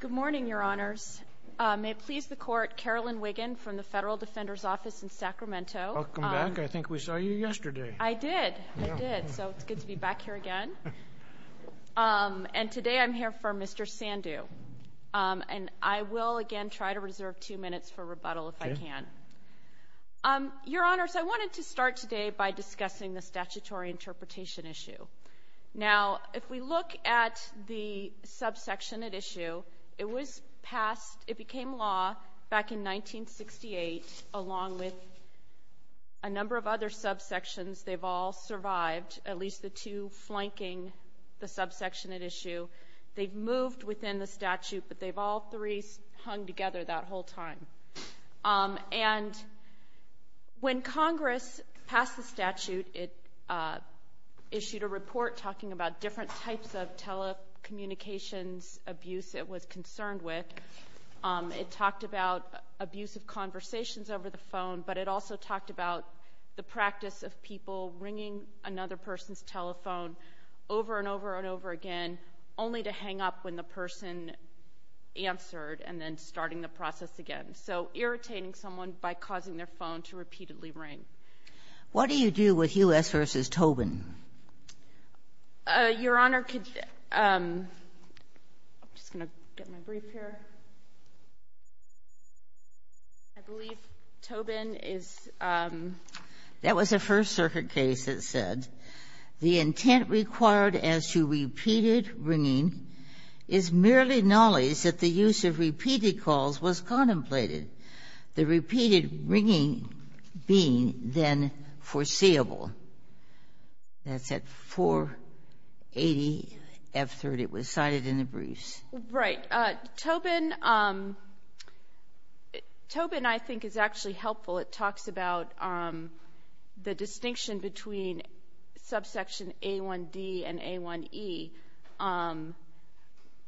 Good morning, Your Honors. May it please the Court, Carolyn Wiggin from the Federal Defender's Office in Sacramento. Welcome back. I think we saw you yesterday. I did. I did. So it's good to be back here again. And today I'm here for Mr. Sandhu. And I will, again, try to reserve two minutes for rebuttal if I can. Your Honors, I wanted to start today by discussing the statutory interpretation issue. Now, if we look at the subsection at issue, it was passed, it became law back in 1968, along with a number of other subsections. They've all survived, at least the two flanking the subsection at issue. They've moved within the statute, but they've all three hung together that whole time. And when Congress passed the statute, it issued a report talking about different types of telecommunications abuse it was concerned with. It talked about abusive conversations over the phone, but it also talked about the practice of people ringing another person's telephone over and over and over again, only to hang up when the person answered and then starting the process again. So irritating someone by causing their phone to repeatedly ring. What do you do with Hughes v. Tobin? Your Honor, could you — I'm just going to get my brief here. I believe Tobin is — That was a First Circuit case that said, the intent required as to repeated ringing is merely knowledge that the use of repeated calls was contemplated, the repeated ringing being then foreseeable. That's at 480 F-30. It was cited in the briefs. Right. Tobin — Tobin, I think, is actually helpful. It talks about the distinction between subsection A1D and A1E.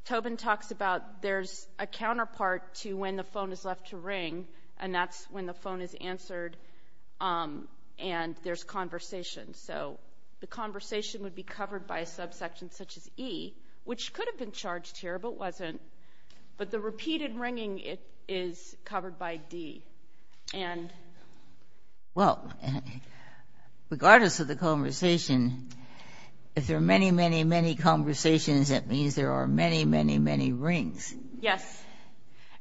Tobin talks about there's a counterpart to when the phone is left to ring, and that's when the phone is answered and there's conversation. So the conversation would be covered by a subsection such as E, which could have been charged here, but wasn't. But the repeated ringing is covered by D. And — Well, regardless of the conversation, if there are many, many, many conversations, that means there are many, many, many rings. Yes.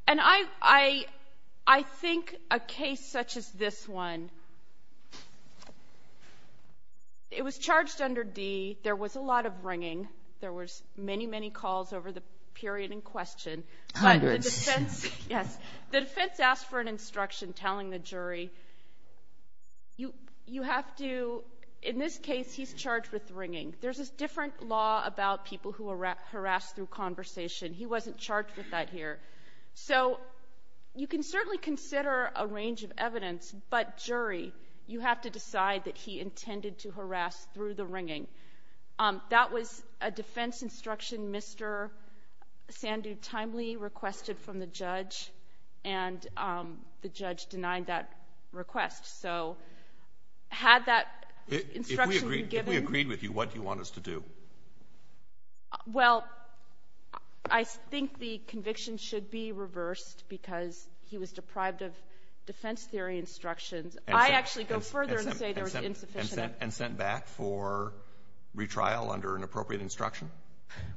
And I think a case such as this one, it was charged under D. There was a lot of ringing. There was many, many calls over the period in question. Hundreds. But the defense — yes. The defense asked for an instruction telling the jury, you have to — in this case, he's charged with ringing. There's a different law about people who harass through conversation. He wasn't charged with that here. So you can certainly consider a range of evidence, but, jury, you have to decide that he intended to harass through the ringing. That was a defense instruction Mr. Sandu timely requested from the judge, and the judge denied that request. So had that instruction been given — If we agreed with you, what do you want us to do? Well, I think the conviction should be reversed because he was deprived of defense theory instructions. I actually go further and say there was insufficient — And sent back for retrial under an appropriate instruction?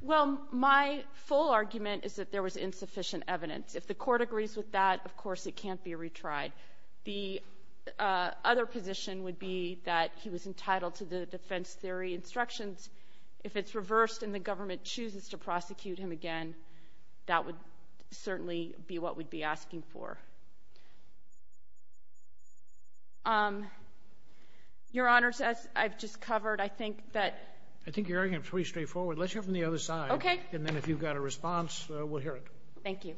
Well, my full argument is that there was insufficient evidence. If the Court agrees with that, of course, it can't be retried. The other position would be that he was entitled to the defense theory instructions. If it's reversed and the government chooses to prosecute him again, that would certainly be what we'd be asking for. Your Honor, as I've just covered, I think that — I think your argument is pretty straightforward. Let's hear it from the other side. Okay. And then if you've got a response, we'll hear it. Thank you.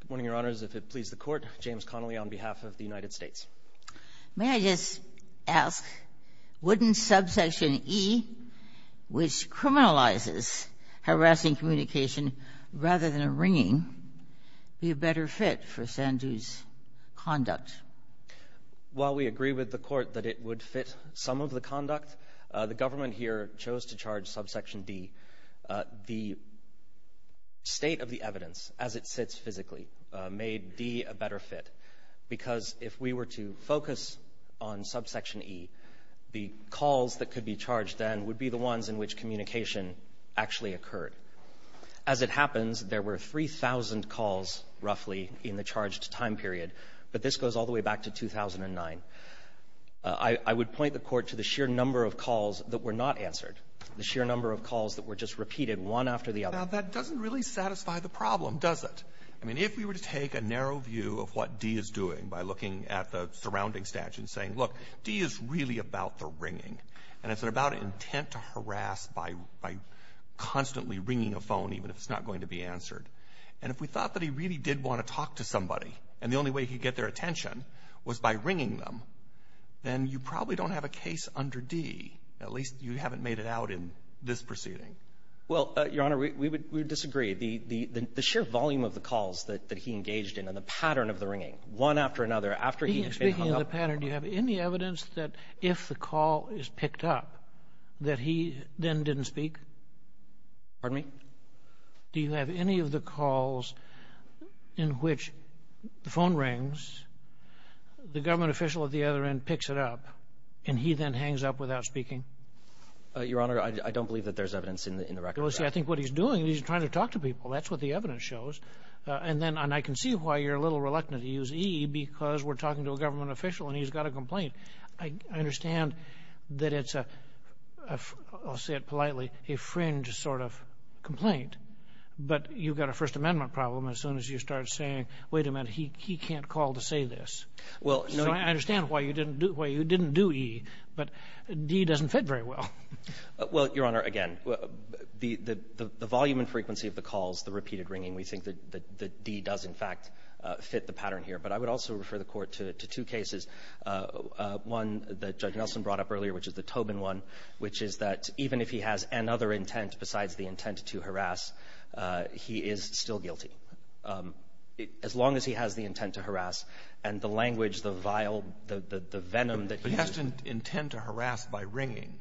Good morning, Your Honors. If it pleases the Court, James Connolly on behalf of the United States. May I just ask, wouldn't subsection E, which criminalizes harassing communication rather than a ringing, be a better fit for Sandu's conduct? While we agree with the Court that it would fit some of the conduct, the government here chose to charge subsection D. The state of the evidence as it sits physically made D a better fit because if we were to focus on subsection E, the calls that could be charged then would be the ones in which communication actually occurred. As it happens, there were 3,000 calls roughly in the charged time period, but this goes all the way back to 2009. I would point the Court to the sheer number of calls that were not answered, the sheer number of calls that were just repeated one after the other. Now, that doesn't really satisfy the problem, does it? I mean, if we were to take a narrow view of what D is doing by looking at the surrounding statute and saying, look, D is really about the ringing, and it's about intent to harass by constantly ringing a phone even if it's not going to be answered. And if we thought that he really did want to talk to somebody, and the only way he could get their attention was by ringing them, then you probably don't have a case under D, at least you haven't made it out in this proceeding. Well, Your Honor, we would disagree. The sheer volume of the calls that he engaged in and the pattern of the ringing one after another after he had been hung up. Speaking of the pattern, do you have any evidence that if the call is picked up, that he then didn't speak? Pardon me? Do you have any of the calls in which the phone rings, the government official at the other end picks it up, and he then hangs up without speaking? Your Honor, I don't believe that there's evidence in the record. Well, see, I think what he's doing is he's trying to talk to people. That's what the evidence shows. And then I can see why you're a little reluctant to use E because we're talking to a government official and he's got a complaint. I understand that it's a, I'll say it politely, a fringe sort of complaint, but you've got a First Amendment problem as soon as you start saying, wait a minute, he can't call to say this. So I understand why you didn't do E, but D doesn't fit very well. Well, Your Honor, again, the volume and frequency of the calls, the repeated ringing, we think that D does, in fact, fit the pattern here. But I would also refer the Court to two cases, one that Judge Nelson brought up earlier, which is the Tobin one, which is that even if he has another intent besides the intent to harass, he is still guilty. As long as he has the intent to harass and the language, the vile, the venom that he used to do it. But he has to intend to harass by ringing,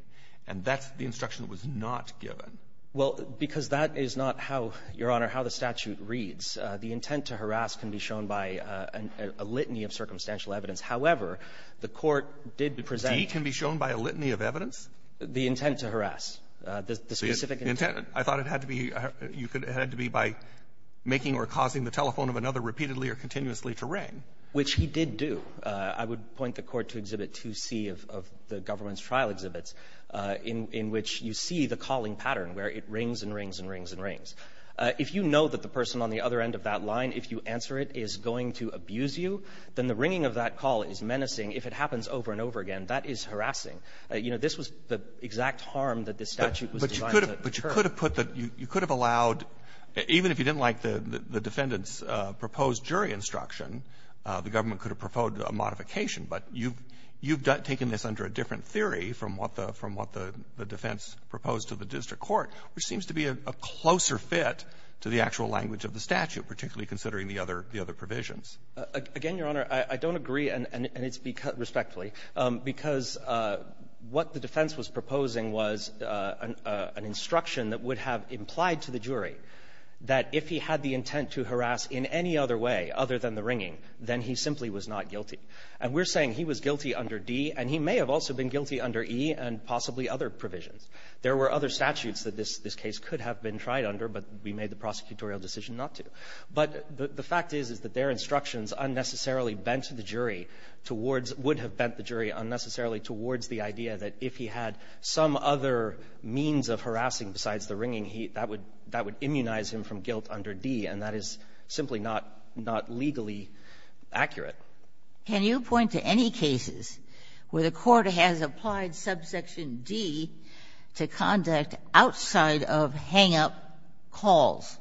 and that's the instruction that was not given. Well, because that is not how, Your Honor, how the statute reads. The intent to harass can be shown by a litany of circumstantial evidence. However, the Court did present the intent to harass. The specific intent. I thought it had to be by making or causing the telephone of another repeatedly or continuously to ring. Which he did do. I would point the Court to Exhibit 2C of the government's trial exhibits, in which you see the calling pattern where it rings and rings and rings and rings. If you know that the person on the other end of that line, if you answer it, is going to abuse you, then the ringing of that call is menacing. If it happens over and over again, that is harassing. You know, this was the exact harm that the statute was designed to deter. But you could have put the you could have allowed, even if you didn't like the defendant's proposed jury instruction, the government could have proposed a modification. But you've taken this under a different theory from what the defense proposed to the district court, which seems to be a closer fit to the actual language of the statute, particularly considering the other provisions. Again, Your Honor, I don't agree, and it's because, respectfully, because what the defense was proposing was an instruction that would have implied to the jury that if he had the intent to harass in any other way other than the ringing, then he simply was not guilty. And we're saying he was guilty under D, and he may have also been tried under, but we made the prosecutorial decision not to. But the fact is, is that their instructions unnecessarily bent the jury towards would have bent the jury unnecessarily towards the idea that if he had some other means of harassing besides the ringing, he that would that would immunize him from guilt under D, and that is simply not not legally accurate. Can you point to any cases where the Court has applied subsection D to conduct outside of hang-up calls?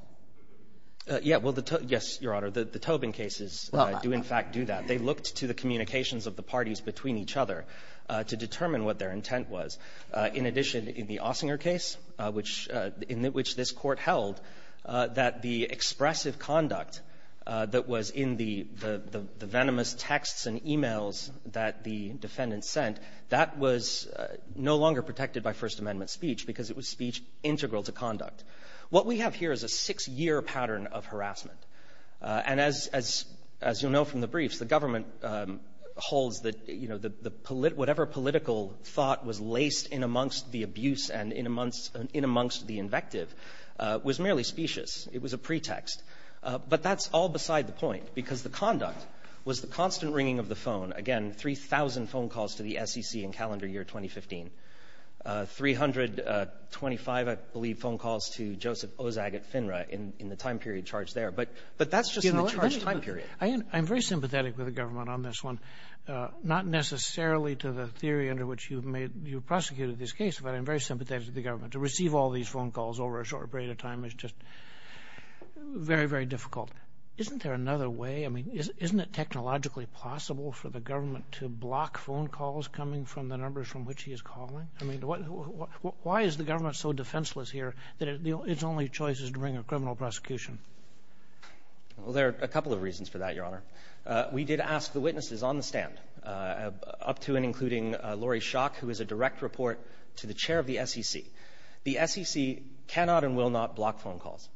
Yeah. Well, the toe — yes, Your Honor. The Tobin cases do, in fact, do that. They looked to the communications of the parties between each other to determine what their intent was. In addition, in the Ossinger case, which — in which this was speech-integral-to-conduct that was in the venomous texts and e-mails that the defendants sent, that was no longer protected by First Amendment speech because it was speech-integral-to-conduct. What we have here is a six-year pattern of harassment. And as you'll know from the briefs, the government holds that, you know, the — whatever political thought was laced in amongst the abuse and in amongst the invective was merely specious. It was a pretext. But that's all beside the point, because the conduct was the constant ringing of the phone. Again, 3,000 phone calls to the SEC in calendar year 2015, 325, I believe, phone calls to Joseph Ozag at FINRA in the time period charged there. But that's just in the charged time period. I'm very sympathetic with the government on this one, not necessarily to the theory under which you've made — you've prosecuted this case, but I'm very sympathetic to the government. To receive all these phone calls over a short period of time is just very, very difficult. Isn't there another way? I mean, isn't it technologically possible for the government to block phone calls coming from the numbers from which he is calling? I mean, why is the government so defenseless here that its only choice is to bring a criminal prosecution? Well, there are a couple of reasons for that, Your Honor. We did ask the witnesses on the SEC. The SEC cannot and will not block phone calls,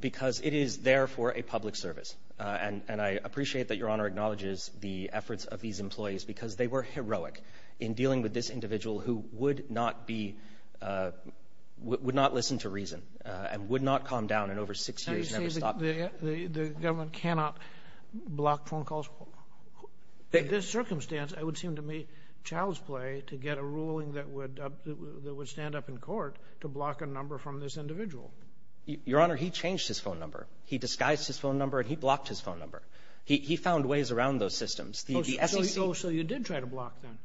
because it is there for a public service. And I appreciate that Your Honor acknowledges the efforts of these employees, because they were heroic in dealing with this individual who would not be — would not listen to reason and would not calm down in over six years and never stop. And you say the government cannot block phone calls? In this circumstance, it would to block a number from this individual. Your Honor, he changed his phone number. He disguised his phone number, and he blocked his phone number. He found ways around those systems. The SEC — Oh, so you did try to block them.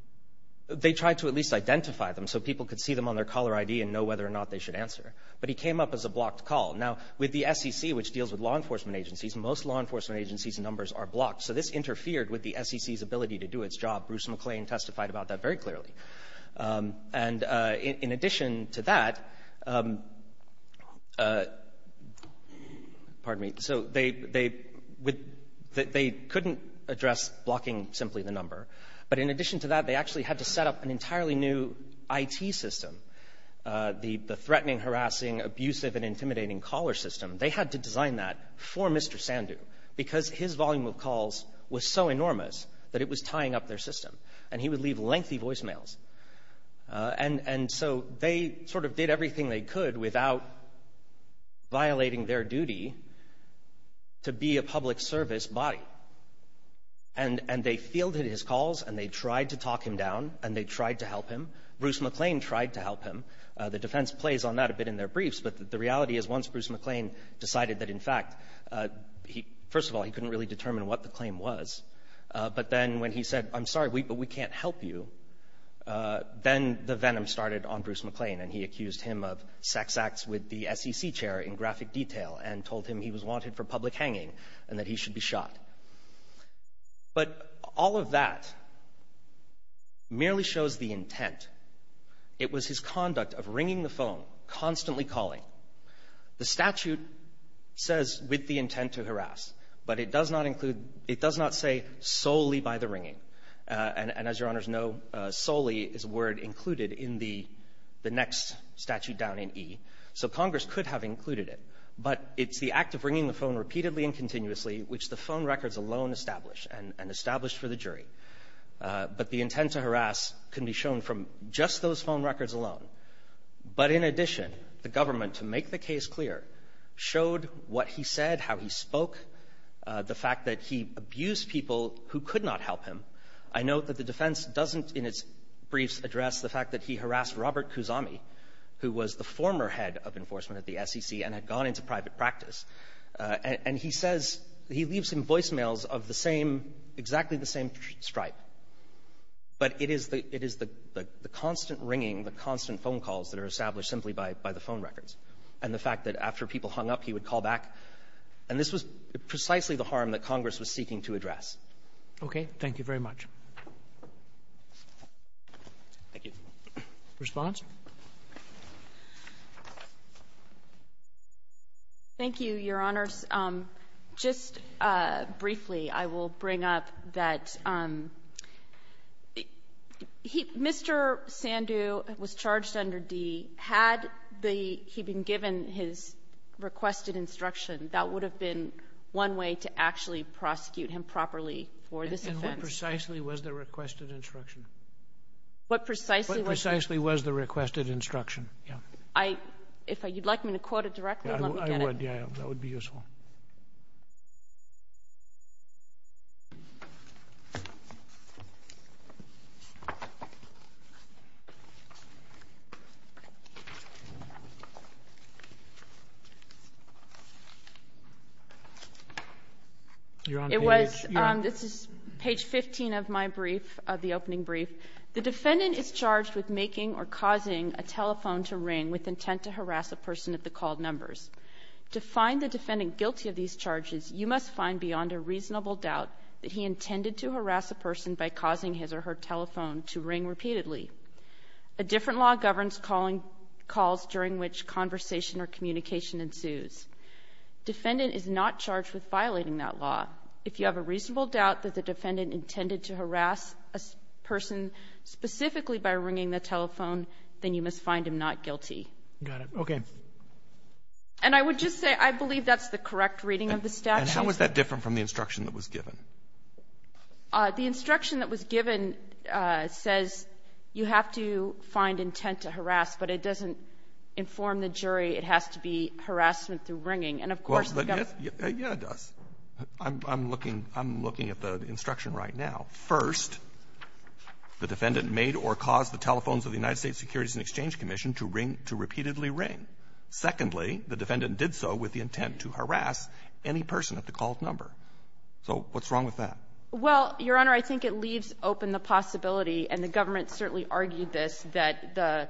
They tried to at least identify them so people could see them on their caller ID and know whether or not they should answer. But he came up as a blocked call. Now, with the SEC, which deals with law enforcement agencies, most law enforcement agencies' numbers are blocked. So this interfered with the SEC's ability to do its job. Bruce McClain testified about that very clearly. And in addition to that — pardon me. So they — they couldn't address blocking simply the number. But in addition to that, they actually had to set up an entirely new IT system, the threatening, harassing, abusive, and intimidating caller system. They had to design that for Mr. Sandhu, because his volume of calls was so enormous that it was tying up their system. And he would leave lengthy voicemails. And so they sort of did everything they could without violating their duty to be a public service body. And they fielded his calls, and they tried to talk him down, and they tried to help him. Bruce McClain tried to help him. The defense plays on that a bit in their briefs. But the reality is, once Bruce McClain decided that, in fact, he — first of all, he couldn't really determine what the claim was. But then when he said, I'm sorry, but we can't help you, then the venom started on Bruce McClain, and he accused him of sex acts with the SEC chair in graphic detail and told him he was wanted for public hanging and that he should be shot. But all of that merely shows the intent. It was his conduct of ringing the phone, constantly calling. The statute says, with the intent to harass. But it does not include — it does not say solely by the ringing. And as Your Honors know, solely is a word included in the next statute down in E. So Congress could have included it. But it's the act of ringing the phone repeatedly and continuously, which the phone records alone establish, and established for the jury. But the intent to harass can be shown from just those phone records alone. But in addition, the government, to make the case clear, showed what he said, how he spoke, the fact that he abused people who could not help him. I note that the defense doesn't, in its briefs, address the fact that he harassed Robert Kusami, who was the former head of enforcement at the SEC and had gone into private practice. And he says — he leaves him voicemails of the same — exactly the same stripe. But it is the — it is the constant ringing, the constant phone calls that are established simply by the phone records, and the fact that after people hung up, he would call back. And this was precisely the harm that Congress was seeking to address. Roberts. Okay. Thank you very much. Thank you. Roberts. Response? Thank you, Your Honors. Just briefly, I will bring up that he — Mr. Sandhu was charged under D. Had the — had the requested instruction. That would have been one way to actually prosecute him properly for this offense. And what precisely was the requested instruction? What precisely was the — What precisely was the requested instruction? Yeah. I — if I — you'd like me to quote it directly, let me get it. I would. Yeah. That would be useful. It was — this is page 15 of my brief, of the opening brief. The defendant is charged with making or causing a telephone to ring with intent to harass a person at the called numbers. To find the defendant guilty of these charges, you must find beyond a reasonable doubt that he intended to harass a person by causing his or her telephone to ring repeatedly. A different law governs calling — calls during which conversation or communication ensues. Defendant is not charged with violating that law. If you have a reasonable doubt that the defendant intended to harass a person specifically by ringing the telephone, then you must find him not guilty. Got it. Okay. And I would just say I believe that's the correct reading of the statute. And how is that different from the instruction that was given? The instruction that was given says you have to find intent to harass, but it doesn't inform the jury it has to be harassment through ringing. And, of course, the government — Well, yes. Yeah, it does. I'm looking — I'm looking at the instruction right now. First, the defendant made or caused the telephones of the United States Securities and Exchange Commission to ring — to repeatedly ring. Secondly, the defendant did so with the intent to harass any person at the called number. So what's wrong with that? Well, Your Honor, I think it leaves open the possibility, and the government certainly argued this, that the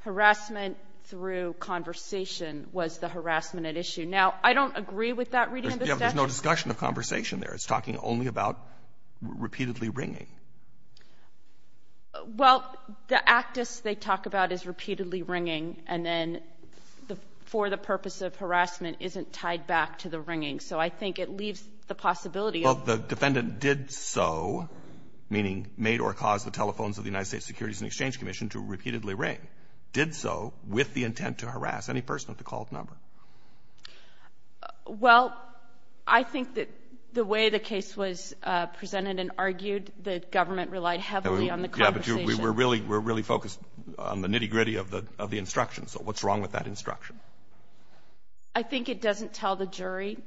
harassment through conversation was the harassment at issue. Now, I don't agree with that reading of the statute. Yeah, but there's no discussion of conversation there. It's talking only about repeatedly ringing. Well, the actus they talk about is repeatedly ringing, and then the — for the purpose of harassment isn't tied back to the ringing. So I think it leaves the possibility of — Well, the defendant did so, meaning made or caused the telephones of the United States Securities and Exchange Commission to repeatedly ring, did so with the intent to harass any person at the called number. Well, I think that the way the case was presented and argued, the defense's view was that the government relied heavily on the conversation. Yeah, but we're really focused on the nitty-gritty of the instruction. So what's wrong with that instruction? I think it doesn't tell the jury.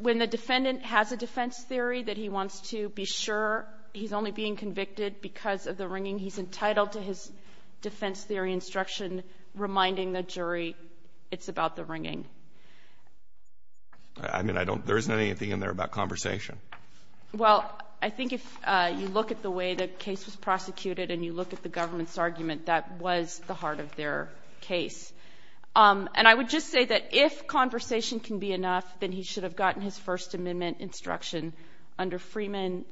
When the defendant has a defense theory that he wants to be sure he's only being convicted because of the ringing, he's entitled to his defense theory instruction reminding the jury it's about the ringing. I mean, I don't — there isn't anything in there about conversation. Well, I think if you look at the way the case was prosecuted and you look at the government's argument, that was the heart of their case. And I would just say that if conversation can be enough, then he should have gotten his First Amendment instruction. Under Freeman,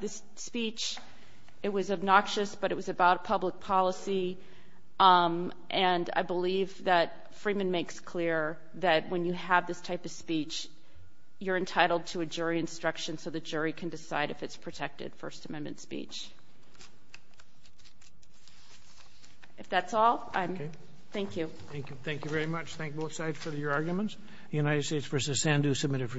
this speech, it was obnoxious, but it was about public policy. And I believe that Freeman makes clear that when you have this type of speech, you're entitled to a jury instruction so the jury can decide if it's protected First Amendment speech. If that's all, I'm — Okay. Thank you. Thank you. Thank you very much. Thank both sides for your arguments. The United States v. Sandhu, submitted for decision.